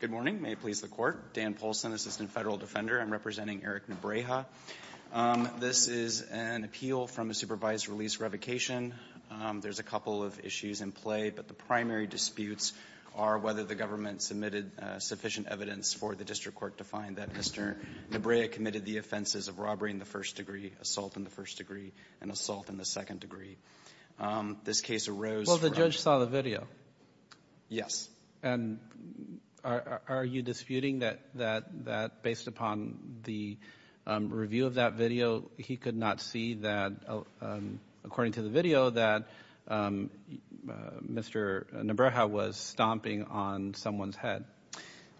Good morning. May it please the Court. Dan Polson, Assistant Federal Defender. I'm representing Eric Nebreja. This is an appeal from a supervised release revocation. There's a couple of issues in play, but the primary disputes are whether the government submitted sufficient evidence for the district court to find that Mr. Nebreja committed the offenses of robbery in the first degree, assault in the first degree, and assault in the second degree. This case arose from Well, the judge saw the video. Yes. And are you disputing that based upon the review of that video, he could not see that, according to the video, that Mr. Nebreja was stomping on someone's head?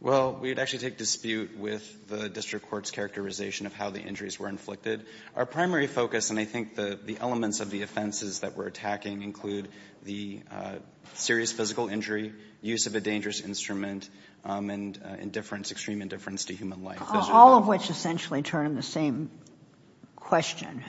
Well, we would actually take dispute with the district court's characterization of how the injuries were inflicted. Our primary focus, and I think the elements of the offenses that we're attacking, include the serious physical injury, use of a dangerous instrument, and indifference, extreme indifference to human life. All of which essentially turn in the same question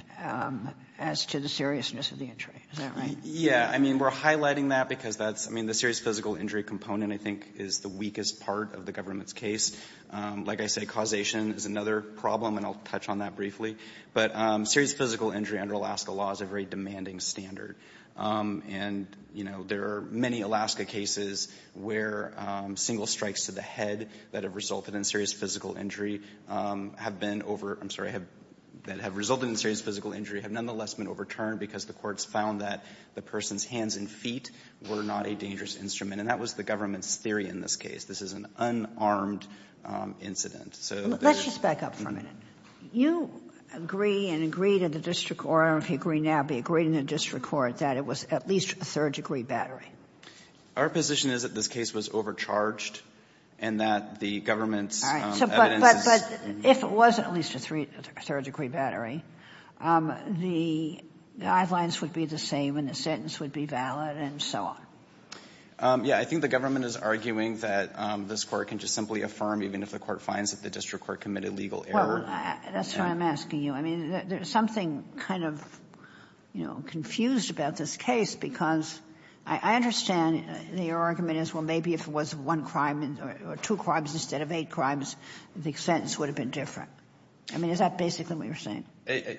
as to the seriousness of the injury. Is that right? Yeah. I mean, we're highlighting that because that's, I mean, the serious physical injury component, I think, is the weakest part of the government's case. Like I say, causation is another problem, and I'll touch on that briefly. But serious physical injury under Alaska law is a very demanding standard. And, you know, there are many Alaska cases where single strikes to the head that have resulted in serious physical injury have been over – I'm sorry – that have resulted in serious physical injury have nonetheless been overturned because the courts found that the person's hands and feet were not a dangerous instrument. And that was the government's theory in this case. This is an unarmed incident. So there's – Let's just back up for a minute. You agree and agree to the district court, or I don't know if you agree now, but agree to the district court that it was at least a third degree battery? Our position is that this case was overcharged and that the government's evidence is – All right. But if it was at least a third degree battery, the guidelines would be the same and the sentence would be valid and so on. Yeah. I think the government is arguing that this court can just simply affirm, even if the court finds that the district court committed legal error. Well, that's what I'm asking you. I mean, there's something kind of, you know, I understand the argument is, well, maybe if it was one crime or two crimes instead of eight crimes, the sentence would have been different. I mean, is that basically what you're saying?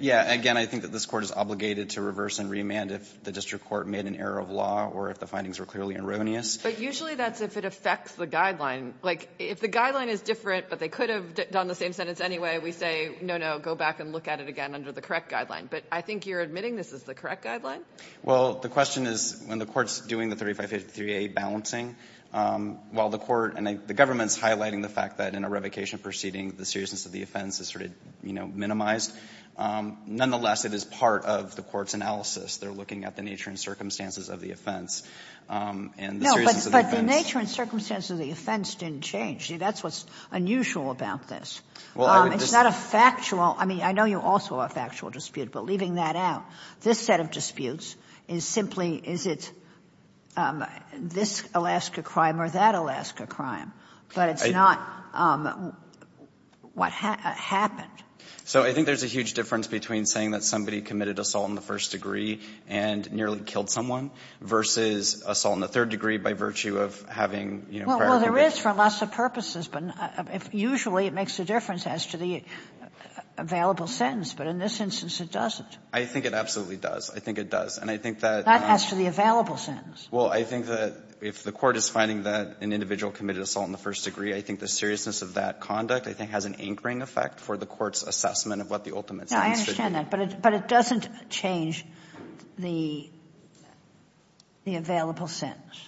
Yeah. Again, I think that this court is obligated to reverse and remand if the district court made an error of law or if the findings were clearly erroneous. But usually that's if it affects the guideline. Like, if the guideline is different but they could have done the same sentence anyway, we say, no, no, go back and look at it again under the correct guideline. But I think you're admitting this is the correct guideline? Well, the question is, when the court's doing the 3553A balancing, while the court and the government's highlighting the fact that in a revocation proceeding the seriousness of the offense is sort of, you know, minimized, nonetheless it is part of the court's analysis. They're looking at the nature and circumstances of the offense and the seriousness of the offense. No, but the nature and circumstances of the offense didn't change. See, that's what's unusual about this. Well, I would just say. It's not a factual. I mean, I know you also have a factual dispute, but leaving that out, this set of disputes is simply is it this Alaska crime or that Alaska crime, but it's not what happened. So I think there's a huge difference between saying that somebody committed assault in the first degree and nearly killed someone versus assault in the third degree by virtue of having, you know, prior conviction. Well, there is for lots of purposes, but usually it makes a difference as to the available sentence. But in this instance, it doesn't. I think it absolutely does. I think it does. And I think that That asks for the available sentence. Well, I think that if the court is finding that an individual committed assault in the first degree, I think the seriousness of that conduct, I think, has an anchoring effect for the court's assessment of what the ultimate sentence should be. No, I understand that. But it doesn't change the available sentence.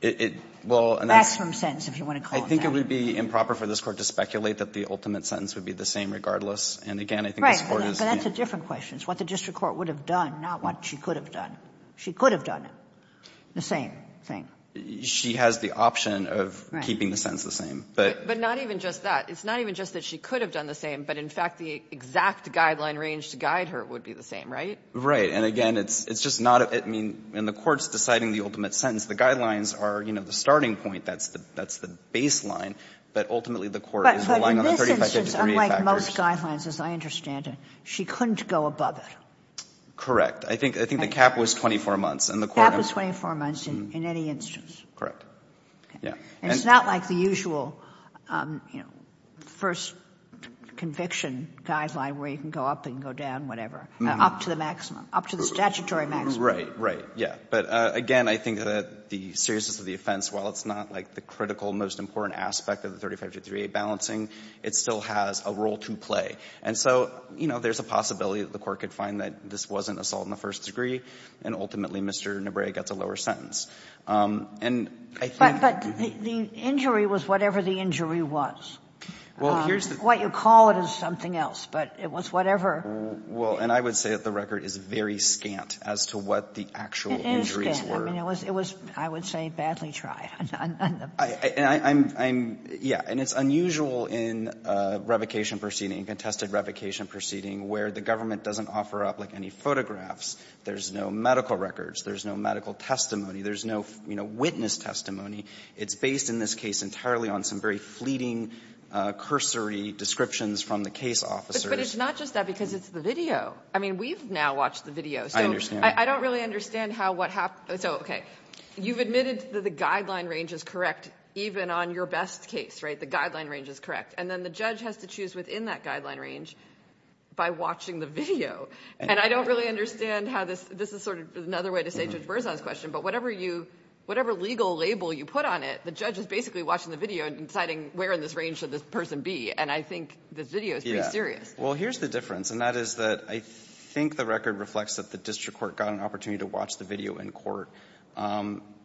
It will That's from sentence, if you want to call it that. I think it would be improper for this Court to speculate that the ultimate sentence would be the same regardless. And, again, I think this Court is Right. But that's a different question. It's what the district court would have done, not what she could have done. She could have done it, the same thing. She has the option of keeping the sentence the same. But not even just that. It's not even just that she could have done the same, but, in fact, the exact guideline range to guide her would be the same, right? Right. And, again, it's just not. I mean, in the court's deciding the ultimate sentence, the guidelines are, you know, the starting point. That's the baseline. But, ultimately, the court is relying on the 35-53 rule. But unlike most guidelines, as I understand it, she couldn't go above it. Correct. I think the cap was 24 months. The cap was 24 months in any instance. Correct. Yeah. And it's not like the usual, you know, first conviction guideline where you can go up and go down, whatever, up to the maximum, up to the statutory maximum. Right, right, yeah. But, again, I think that the seriousness of the offense, while it's not, like, the most critical, most important aspect of the 35-53 balancing, it still has a role to play. And so, you know, there's a possibility that the court could find that this wasn't a assault in the first degree, and, ultimately, Mr. Nabre gets a lower sentence. And I think you can do that. But the injury was whatever the injury was. Well, here's the thing. What you call it is something else, but it was whatever. Well, and I would say that the record is very scant as to what the actual injuries were. I mean, it was, I would say, badly tried. And I'm, yeah, and it's unusual in revocation proceeding, contested revocation proceeding, where the government doesn't offer up, like, any photographs. There's no medical records. There's no medical testimony. There's no, you know, witness testimony. It's based in this case entirely on some very fleeting cursory descriptions from the case officers. But it's not just that, because it's the video. I mean, we've now watched the video. I understand. I don't really understand how what happened. So, okay, you've admitted that the guideline range is correct, even on your best case, right? The guideline range is correct. And then the judge has to choose within that guideline range by watching the video. And I don't really understand how this, this is sort of another way to say Judge Berzon's question, but whatever you, whatever legal label you put on it, the judge is basically watching the video and deciding where in this range should this person be. And I think this video is pretty serious. Well, here's the difference. And that is that I think the record reflects that the district court got an error.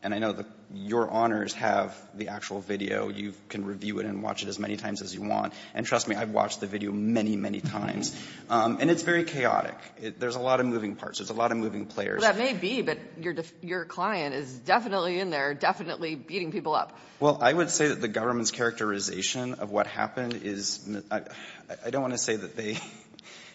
And I know that your honors have the actual video. You can review it and watch it as many times as you want. And trust me, I've watched the video many, many times. And it's very chaotic. There's a lot of moving parts. There's a lot of moving players. Well, that may be, but your client is definitely in there, definitely beating people up. Well, I would say that the government's characterization of what happened is, I don't want to say that they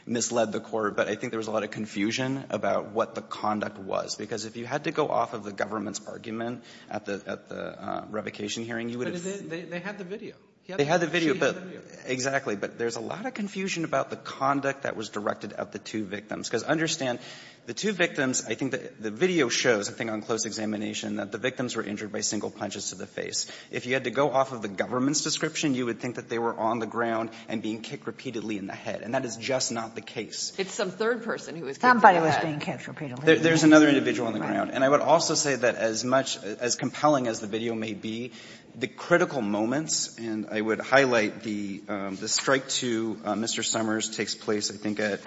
misled the court, but I think there was a lot of confusion about what the conduct was. Because if you had to go off of the government's argument at the revocation hearing, you would have ---- But they had the video. They had the video. They had the video. Exactly. But there's a lot of confusion about the conduct that was directed at the two victims. Because understand, the two victims, I think the video shows, I think on close examination, that the victims were injured by single punches to the face. If you had to go off of the government's description, you would think that they were on the ground and being kicked repeatedly in the head. And that is just not the case. It's some third person who was kicked in the head. Somebody was being kicked repeatedly in the head. There's another individual on the ground. Right. And I would also say that as much as compelling as the video may be, the critical moments, and I would highlight the strike to Mr. Summers takes place, I think, at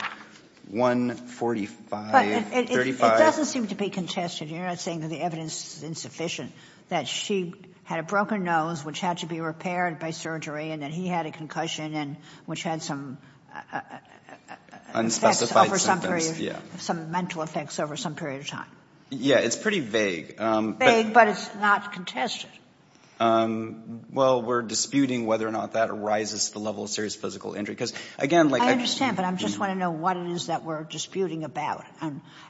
145, 35. But it doesn't seem to be contested. You're not saying that the evidence is insufficient, that she had a broken nose, which had to be repaired by surgery, and that he had a concussion and which had some effects over some period. Yeah. Some mental effects over some period of time. It's pretty vague. Vague, but it's not contested. Well, we're disputing whether or not that arises to the level of serious physical injury. Because, again, like I just. I understand, but I just want to know what it is that we're disputing about.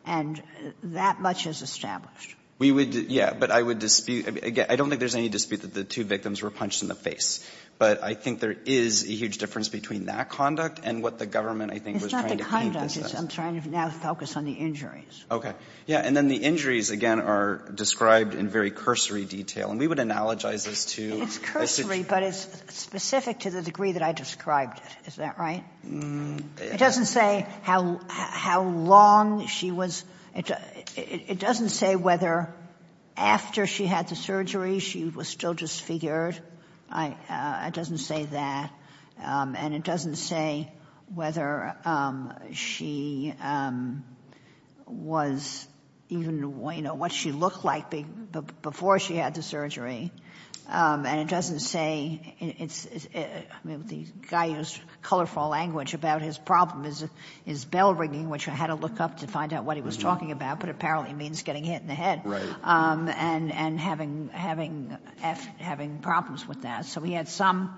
And that much is established. We would, yeah. But I would dispute, again, I don't think there's any dispute that the two victims were punched in the face. But I think there is a huge difference between that conduct and what the government I think was trying to emphasize. I'm trying to now focus on the injuries. Yeah. And then the injuries, again, are described in very cursory detail. And we would analogize this to. It's cursory, but it's specific to the degree that I described it. Is that right? It doesn't say how long she was. It doesn't say whether after she had the surgery she was still disfigured. It doesn't say that. And it doesn't say whether she was even, you know, what she looked like before she had the surgery. And it doesn't say. The guy used colorful language about his problem is bell ringing, which I had to look up to find out what he was talking about. But apparently it means getting hit in the head. Right. And having problems with that. So he had some,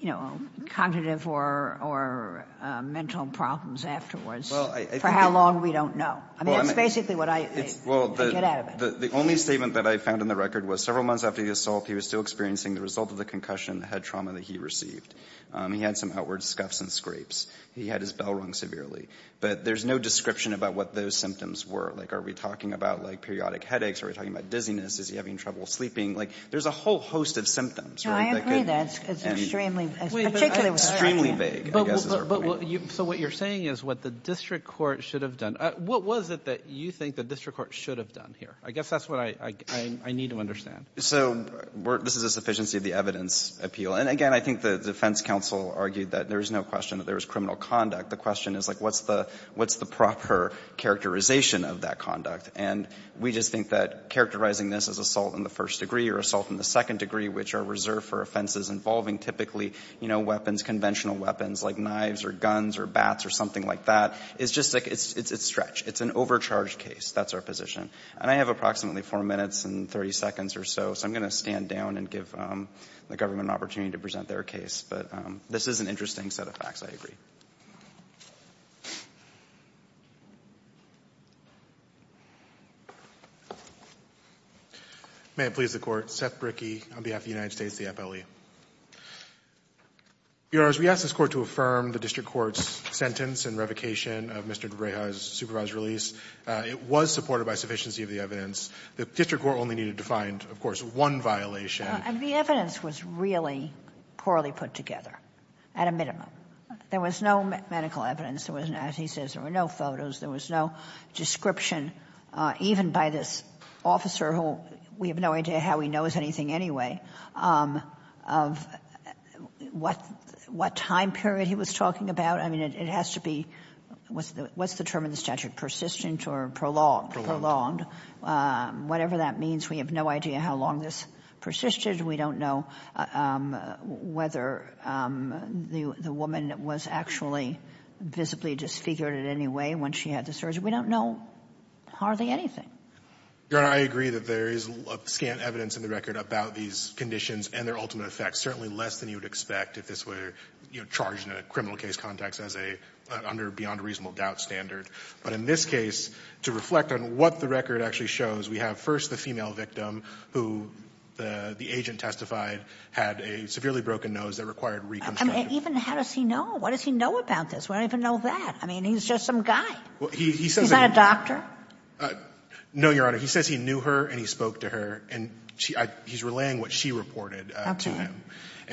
you know, cognitive or mental problems afterwards for how long we don't know. I mean, that's basically what I get out of it. The only statement that I found in the record was several months after the assault he was still experiencing the result of the concussion and the head trauma that he received. He had some outward scuffs and scrapes. He had his bell rung severely. But there's no description about what those symptoms were. Like, are we talking about, like, periodic headaches? Are we talking about dizziness? Is he having trouble sleeping? Like, there's a whole host of symptoms. I agree with that. It's extremely vague. So what you're saying is what the district court should have done. What was it that you think the district court should have done here? I guess that's what I need to understand. So this is a sufficiency of the evidence appeal. And, again, I think the defense counsel argued that there is no question that there was criminal conduct. The question is, like, what's the proper characterization of that conduct? And we just think that characterizing this as assault in the first degree or assault in the second degree, which are reserved for offenses involving typically, you know, weapons, conventional weapons like knives or guns or bats or something like that, it's just like it's stretched. It's an overcharged case. That's our position. And I have approximately 4 minutes and 30 seconds or so. So I'm going to stand down and give the government an opportunity to present their case. But this is an interesting set of facts. I agree. May it please the Court. Seth Brickey on behalf of the United States, the FLE. Bureaus, we asked this Court to affirm the district court's sentence and revocation of Mr. DeBrayha's supervised release. It was supported by sufficiency of the evidence. The district court only needed to find, of course, one violation. And the evidence was really poorly put together, at a minimum. There was no evidence. There was no medical evidence. As he says, there were no photos. There was no description, even by this officer who we have no idea how he knows anything anyway, of what time period he was talking about. I mean, it has to be, what's the term in the statute? Persistent or prolonged? Prolonged. Whatever that means. We have no idea how long this persisted. We don't know whether the woman was actually visibly disfigured in any way when she had the surgery. We don't know hardly anything. Your Honor, I agree that there is scant evidence in the record about these conditions and their ultimate effects, certainly less than you would expect if this were charged in a criminal case context under a beyond reasonable doubt standard. But in this case, to reflect on what the record actually shows, we have first the female victim who the agent testified had a severely broken nose that required reconstruction. Even how does he know? What does he know about this? We don't even know that. I mean, he's just some guy. He's not a doctor? No, Your Honor. He says he knew her and he spoke to her. He's relaying what she reported to him.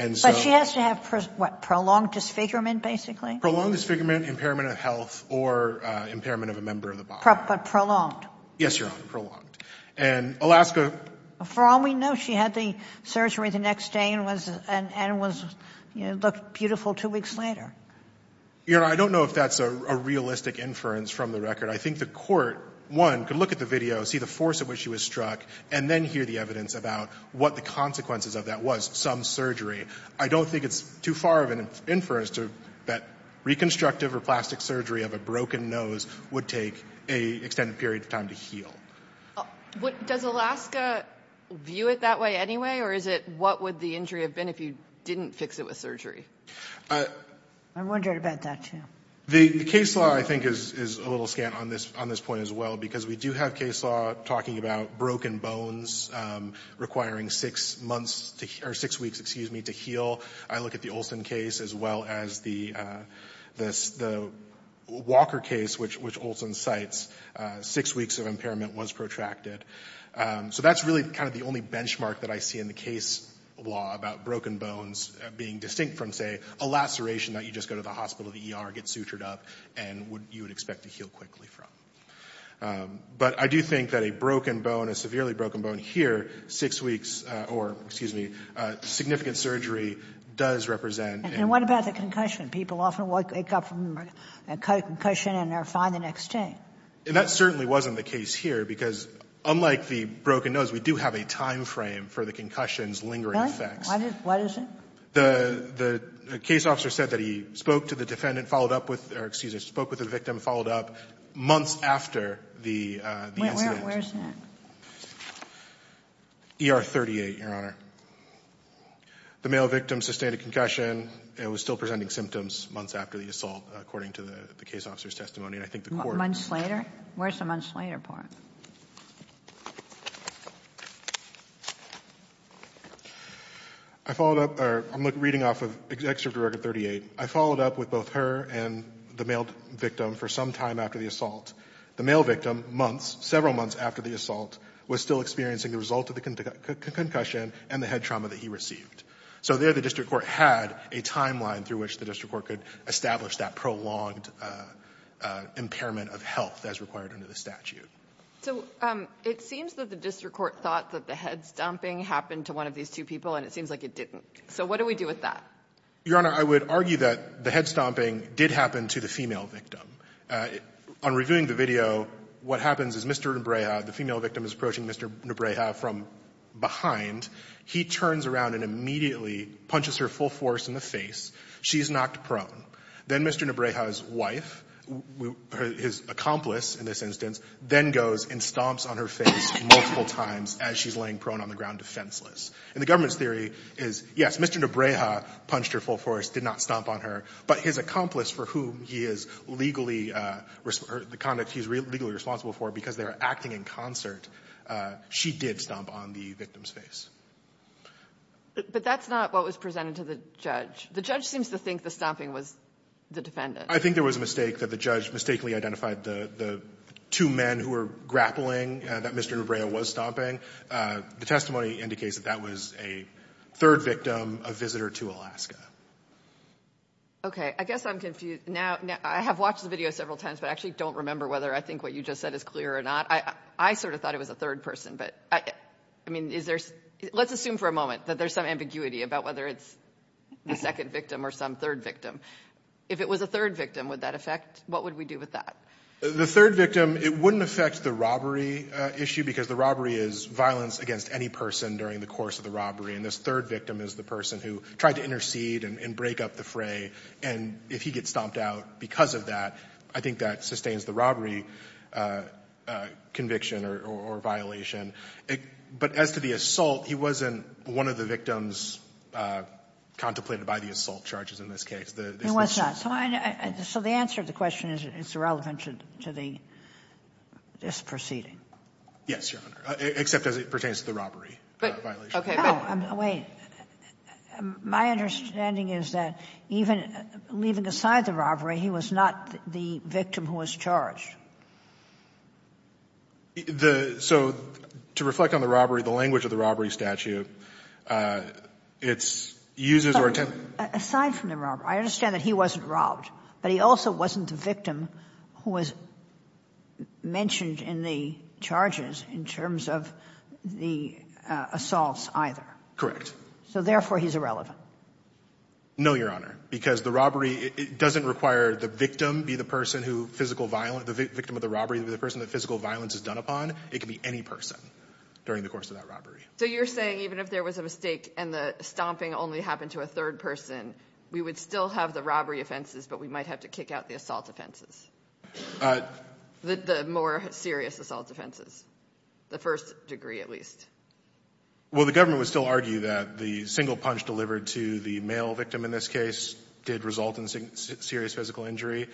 But she has to have what? Prolonged disfigurement, basically? Prolonged disfigurement, impairment of health, or impairment of a member of the body. But prolonged? Yes, Your Honor. Prolonged. And Alaska? For all we know, she had the surgery the next day and looked beautiful two weeks later. Your Honor, I don't know if that's a realistic inference from the record. I think the Court, one, could look at the video, see the force at which she was struck, and then hear the evidence about what the consequences of that was, some surgery. I don't think it's too far of an inference that reconstructive or plastic surgery of a broken nose would take an extended period of time to heal. Does Alaska view it that way anyway, or is it what would the injury have been if you didn't fix it with surgery? I'm wondering about that, too. The case law, I think, is a little scant on this point as well, because we do have case law talking about broken bones requiring six weeks to heal. I look at the Olson case as well as the Walker case, which Olson cites, six weeks of impairment was protracted. So that's really kind of the only benchmark that I see in the case law about broken bones being distinct from, say, a laceration that you just go to the hospital, the ER, get sutured up, and you would expect to heal quickly from. But I do think that a broken bone, a severely broken bone here, six weeks, or, excuse me, significant surgery does represent... And what about the concussion? People often wake up from a concussion and they're fine the next day. And that certainly wasn't the case here, because unlike the broken nose, we do have a time frame for the concussion's lingering effects. What is it? The case officer said that he spoke to the defendant, followed up with, or, excuse me, spoke with the victim, followed up months after the incident. Where's that? ER 38, Your Honor. The male victim sustained a concussion and was still presenting symptoms months after the assault, according to the case officer's testimony. And I think the court... Months later? Where's the months later part? I followed up, or I'm reading off of Excerpt of Record 38. I followed up with both her and the male victim for some time after the assault. The male victim, months, several months after the assault, was still experiencing the result of the concussion and the head trauma that he received. So there the district court had a timeline through which the district court could establish that prolonged impairment of health as required under the statute. So it seems that the district court thought that the head stomping happened to one of these two people, and it seems like it didn't. So what do we do with that? Your Honor, I would argue that the head stomping did happen to the female victim. On reviewing the video, what happens is Mr. Nubreja, the female victim is approaching Mr. Nubreja from behind. He turns around and immediately punches her full force in the face. She is knocked prone. Then Mr. Nubreja's wife, his accomplice in this instance, then goes and stomps on her face multiple times as she's laying prone on the ground defenseless. And the government's theory is, yes, Mr. Nubreja punched her full force, did not stomp on her, but his accomplice for whom he is legally responsible for because they are acting in concert, she did stomp on the victim's face. But that's not what was presented to the judge. The judge seems to think the stomping was the defendant. I think there was a mistake that the judge mistakenly identified the two men who were grappling that Mr. Nubreja was stomping. The testimony indicates that that was a third victim, a visitor to Alaska. Okay. I guess I'm confused. Now, I have watched the video several times, but I actually don't remember whether I think what you just said is clear or not. I sort of thought it was a third person, but I mean, let's assume for a moment that there's some ambiguity about whether it's the second victim or some third victim. If it was a third victim, would that affect? What would we do with that? The third victim, it wouldn't affect the robbery issue because the robbery is violence against any person during the course of the robbery, and this third victim is the person who tried to intercede and break up the fray. And if he gets stomped out because of that, I think that sustains the robbery conviction or violation. But as to the assault, he wasn't one of the victims contemplated by the assault charges in this case. He was not. So the answer to the question is it's irrelevant to the disproceeding. Yes, Your Honor, except as it pertains to the robbery violation. Okay. Wait. My understanding is that even leaving aside the robbery, he was not the victim who was charged. The so to reflect on the robbery, the language of the robbery statute, it's uses or attempts. Aside from the robbery, I understand that he wasn't robbed. But he also wasn't the victim who was mentioned in the charges in terms of the assaults either. So therefore, he's irrelevant. No, Your Honor, because the robbery doesn't require the victim be the person who physical violence, the victim of the robbery be the person that physical violence is done upon. It could be any person during the course of that robbery. So you're saying even if there was a mistake and the stomping only happened to a third person, we would still have the robbery offenses, but we might have to kick out the assault offenses? The more serious assault offenses, the first degree at least. Well, the government would still argue that the single punch delivered to the male victim in this case did result in serious physical injury.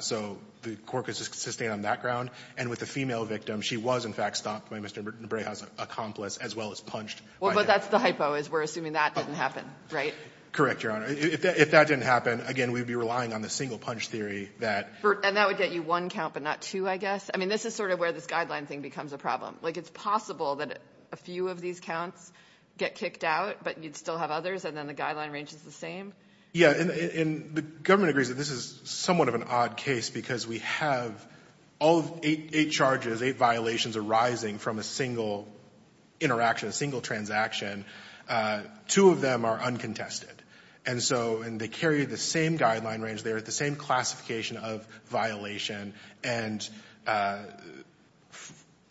So the court could sustain on that ground. And with the female victim, she was, in fact, stopped by Mr. Breha's accomplice, as well as punched. Well, but that's the hypo is we're assuming that didn't happen, right? Correct, Your Honor. If that didn't happen, again, we'd be relying on the single punch theory that ---- And that would get you one count, but not two, I guess? I mean, this is sort of where this guideline thing becomes a problem. Like, it's possible that a few of these counts get kicked out, but you'd still have others and then the guideline range is the same? Yeah, and the government agrees that this is somewhat of an odd case because we have all of eight charges, eight violations arising from a single interaction, a single transaction. Two of them are uncontested. And so they carry the same guideline range. They're at the same classification of violation and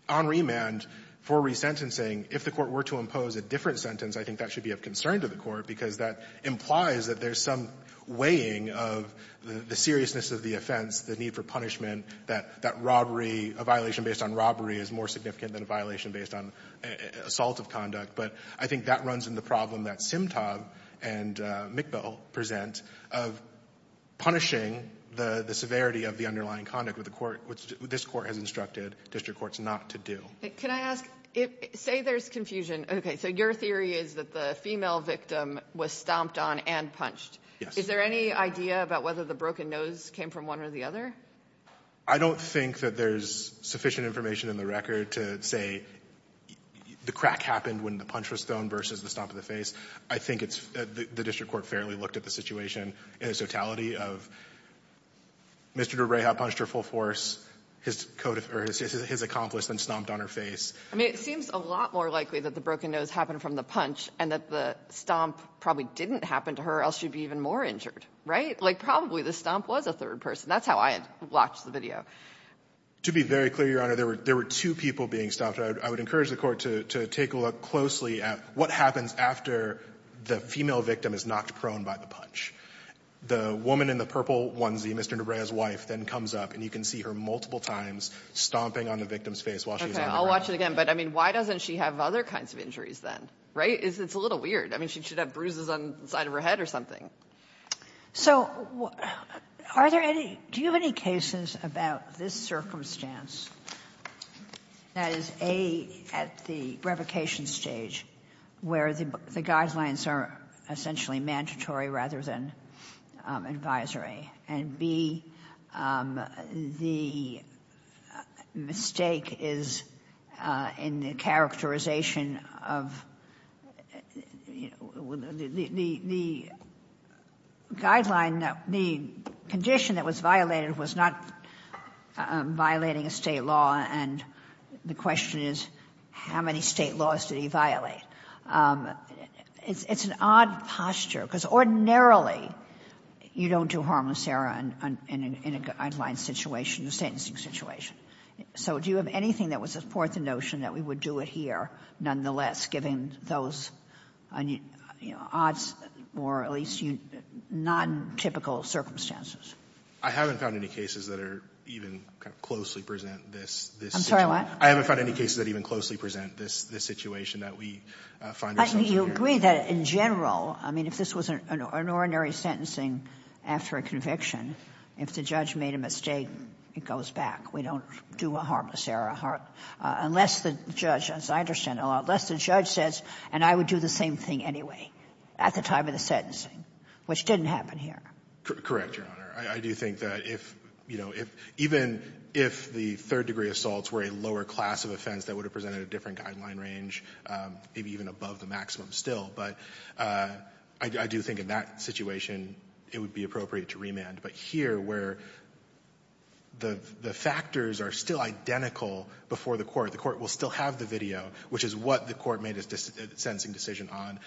on remand for resentencing. If the court were to impose a different sentence, I think that should be of concern to the court because that implies that there's some weighing of the seriousness of the offense, the need for punishment, that that robbery, a violation based on robbery is more significant than a violation based on assault of conduct. But I think that runs in the problem that Simtab and McBell present of punishing the severity of the underlying conduct which the court, this court has instructed district courts not to do. Can I ask, say there's confusion. Okay, so your theory is that the female victim was stomped on and punched. Is there any idea about whether the broken nose came from one or the other? I don't think that there's sufficient information in the record to say the crack happened when the punch was thrown versus the stomp of the face. I think it's, the district court fairly looked at the situation in the totality of Mr. DeReha punched her full force, his accomplice then stomped on her face. I mean, it seems a lot more likely that the broken nose happened from the punch and that the stomp probably didn't happen to her or else she'd be even more injured, right? Like, probably the stomp was a third person. That's how I had watched the video. To be very clear, Your Honor, there were two people being stomped. I would encourage the court to take a look closely at what happens after the female victim is knocked prone by the punch. The woman in the purple onesie, Mr. DeReha's wife, then comes up and you can see her multiple times stomping on the victim's face while she's on the ground. Okay, I'll watch it again. But, I mean, why doesn't she have other kinds of injuries then, right? It's a little weird. I mean, she should have bruises on the side of her head or something. So, are there any, do you have any cases about this circumstance that is, A, at the revocation stage where the guidelines are essentially mandatory rather than advisory, and, B, the mistake is in the characterization of, the guideline, the condition that was violated was not violating a state law, and the question is how many state laws did he violate? It's an odd posture, because ordinarily you don't do harmless error in a guideline situation, a sentencing situation. So do you have anything that would support the notion that we would do it here, nonetheless, given those odds, or at least non-typical circumstances? I haven't found any cases that are even kind of closely present this situation. I'm sorry, what? I haven't found any cases that even closely present this situation that we find ourselves in here. You agree that in general, I mean, if this was an ordinary sentencing after a conviction, if the judge made a mistake, it goes back. We don't do a harmless error, unless the judge, as I understand it, unless the judge says, and I would do the same thing anyway at the time of the sentencing, which didn't happen here. Correct, Your Honor. I do think that if, you know, even if the third degree assaults were a lower class of offense that would have presented a different guideline range, maybe even above the maximum still, but I do think in that situation, it would be appropriate to remand. But here, where the factors are still identical before the court, the court will still have the video, which is what the court made its sentencing decision on.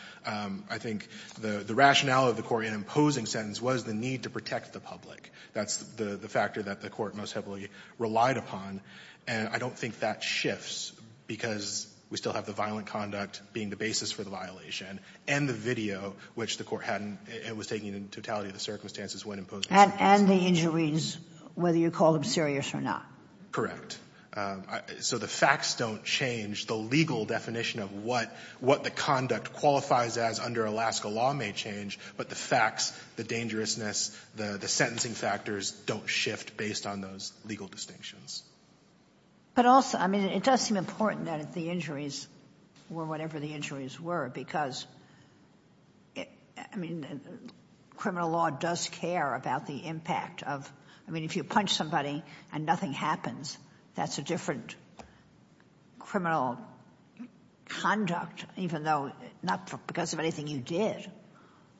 I think the rationale of the court in imposing sentence was the need to protect the public. That's the factor that the court most heavily relied upon. And I don't think that shifts because we still have the violent conduct being the basis for the violation, and the video, which the court hadn't, it was taken in totality of the circumstances when imposing the sentence. And the injuries, whether you call them serious or not. Correct. So the facts don't change. The legal definition of what the conduct qualifies as under Alaska law may change, but the facts, the dangerousness, the sentencing factors don't shift based on those legal distinctions. But also, I mean, it does seem important that if the injuries were whatever the injuries were, because, I mean, criminal law does care about the impact of... I mean, if you punch somebody and nothing happens, that's a different criminal conduct, even though not because of anything you did,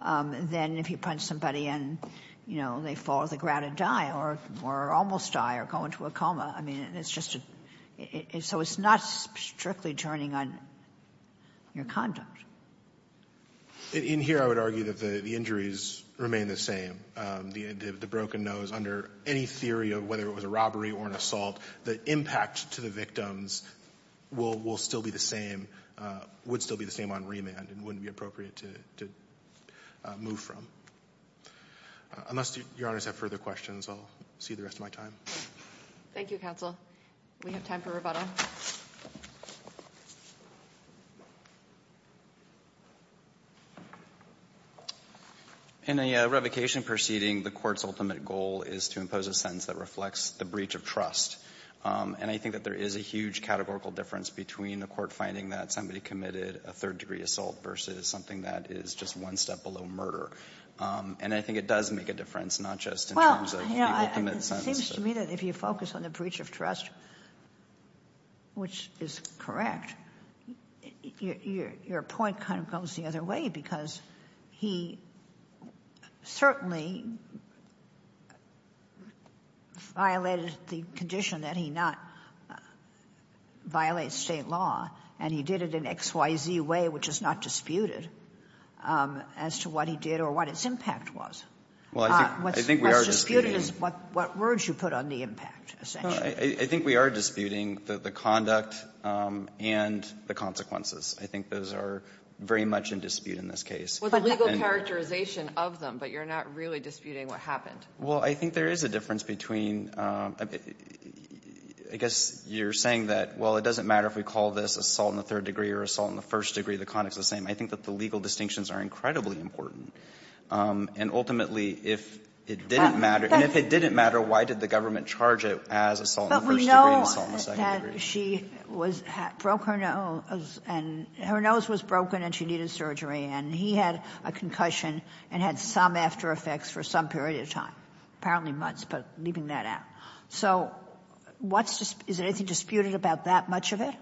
than if you punch somebody and, you know, they fall to the ground and die, or almost die, or go into a coma. I mean, it's just... So it's not strictly turning on your conduct. In here, I would argue that the injuries remain the same. The broken nose, under any theory of whether it was a robbery or an assault, the impact to the victims will still be the same, would still be the same on remand, and wouldn't be appropriate to move from. Unless Your Honors have further questions, I'll see the rest of my time. Thank you, counsel. We have time for rebuttal. In a revocation proceeding, the court's ultimate goal is to impose a sentence that reflects the breach of trust. And I think that there is a huge categorical difference between the court finding that somebody committed a third-degree assault versus something that is just one step below murder. And I think it does make a difference, not just in terms of the ultimate sentence. Well, you know, it seems to me that if you focus on the breach of trust, which is correct, your point kind of goes the other way, because he certainly violated the condition that he not violate state law, and he did it in an XYZ way, which is not disputed, as to what he did or what its impact was. What's disputed is what words you put on the impact, essentially. I think we are disputing the conduct and the consequences. I think those are very much in dispute in this case. Well, the legal characterization of them, but you're not really disputing what happened. Well, I think there is a difference between, I guess you're saying that, well, it doesn't matter if we call this assault in the third degree or assault in the first degree, the conduct is the same. I think that the legal distinctions are incredibly important. And ultimately, if it didn't matter, and if it didn't matter, why did the government charge it as assault in the first degree and assault in the second degree? But we know that she broke her nose, and her nose was broken and she needed surgery, and he had a concussion and had some after effects for some period of time. Apparently months, but leaving that out. So is there anything disputed about that much of it?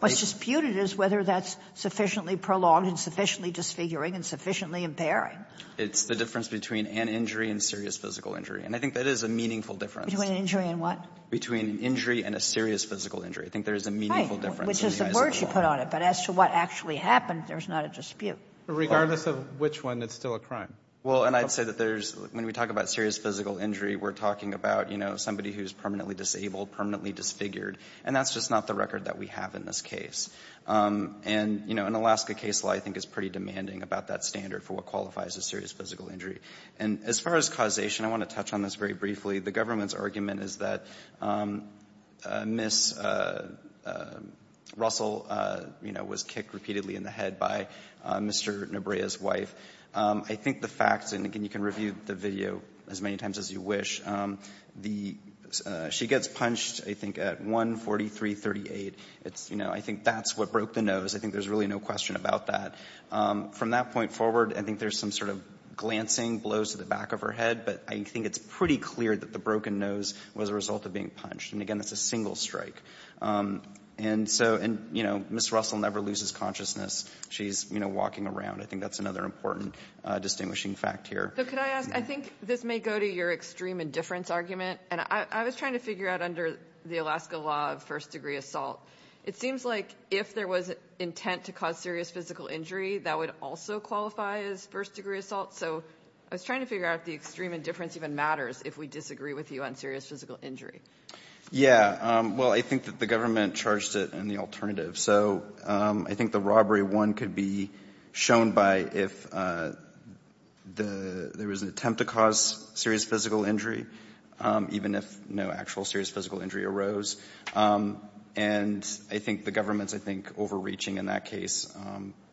What's disputed is whether that's sufficiently prolonged and sufficiently disfiguring and sufficiently impairing. It's the difference between an injury and serious physical injury. And I think that is a meaningful difference. Between an injury and what? Between an injury and a serious physical injury. I think there is a meaningful difference. Right. Which is the words you put on it. But as to what actually happened, there's not a dispute. Regardless of which one, it's still a crime. Well, and I'd say that there's, when we talk about serious physical injury, we're talking about, you know, somebody who's permanently disabled, permanently disfigured. And that's just not the record that we have in this case. And, you know, an Alaska case law I think is pretty demanding about that standard for what qualifies as serious physical injury. And as far as causation, I want to touch on this very briefly. The government's argument is that Ms. Russell, you know, was kicked repeatedly in the head by Mr. Nabrea's wife. I think the fact, and again, you can review the video as many times as you wish, the, she gets punched, I think, at 1-43-38. It's, you know, I think that's what broke the nose. I think there's really no question about that. From that point forward, I think there's some sort of glancing blows to the back of her head, but I think it's pretty clear that the broken nose was a result of being punched. And again, it's a single strike. And so, and, you know, Ms. Russell never loses consciousness. She's, you know, walking around. I think that's another important distinguishing fact here. So could I ask, I think this may go to your extreme indifference argument. And I was trying to figure out under the Alaska law of first degree assault, it seems like if there was intent to cause serious physical injury, that would also qualify as first degree assault. So I was trying to figure out if the extreme indifference even matters if we disagree with you on serious physical injury. Yeah. Well, I think that the government charged it in the alternative. So I think the robbery one could be shown by if there was an attempt to cause serious physical injury, even if no actual serious physical injury arose. And I think the government's, I think, overreaching in that case.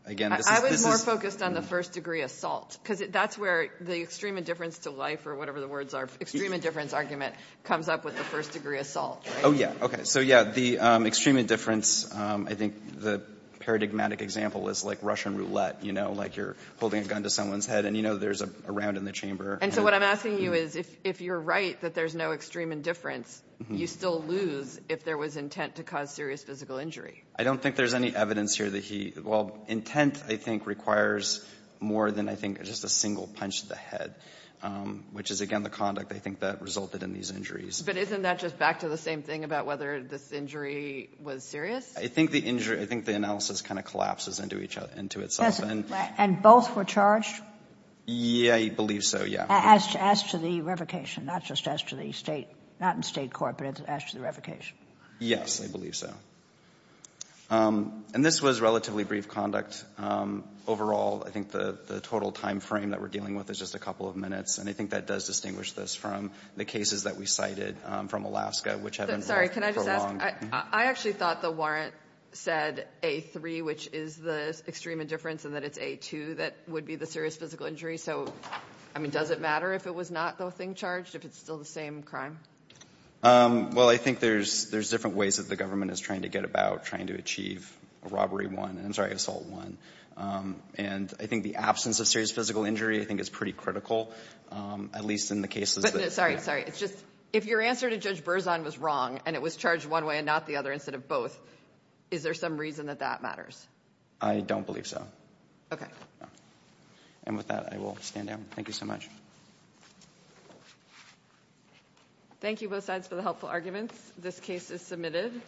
Again, this is... I was more focused on the first degree assault because that's where the extreme indifference to life or whatever the words are, extreme indifference argument comes up with the first degree assault. Oh, yeah. Okay. So, yeah, the extreme indifference, I think the paradigmatic example is like Russian roulette, you know, like you're holding a gun to someone's head and, you know, there's a round in the chamber. And so what I'm asking you is if you're right that there's no extreme indifference, you still lose if there was intent to cause serious physical injury. I don't think there's any evidence here that he... Well, intent, I think, requires more than, just a single punch to the head, which is, again, the conduct, I think, that resulted in these injuries. But isn't that just back to the same thing about whether this injury was serious? I think the injury, I think the analysis kind of collapses into itself. And both were charged? Yeah, I believe so, yeah. As to the revocation, not just as to the State, not in State court, but as to the revocation? Yes, I believe so. And this was relatively brief conduct. Overall, I think the total time frame that we're dealing with is just a couple of minutes. And I think that does distinguish this from the cases that we cited from Alaska, which have been prolonged. Sorry, can I just ask? I actually thought the warrant said A3, which is the extreme indifference and that it's A2 that would be the serious physical injury. So, I mean, does it matter if it was not the thing charged, if it's still the same crime? Well, I think there's different ways that the government is trying to get about trying to achieve Robbery 1, I'm sorry, Assault 1. And I think the absence of serious physical injury I think is pretty critical, at least in the cases that... But, no, sorry, sorry, it's just if your answer to Judge Berzon was wrong and it was charged one way and not the other instead of both, is there some reason that that matters? I don't believe so. Okay. And with that, I will stand down. Thank you so much. Thank you, both sides, for the helpful arguments. This case is submitted.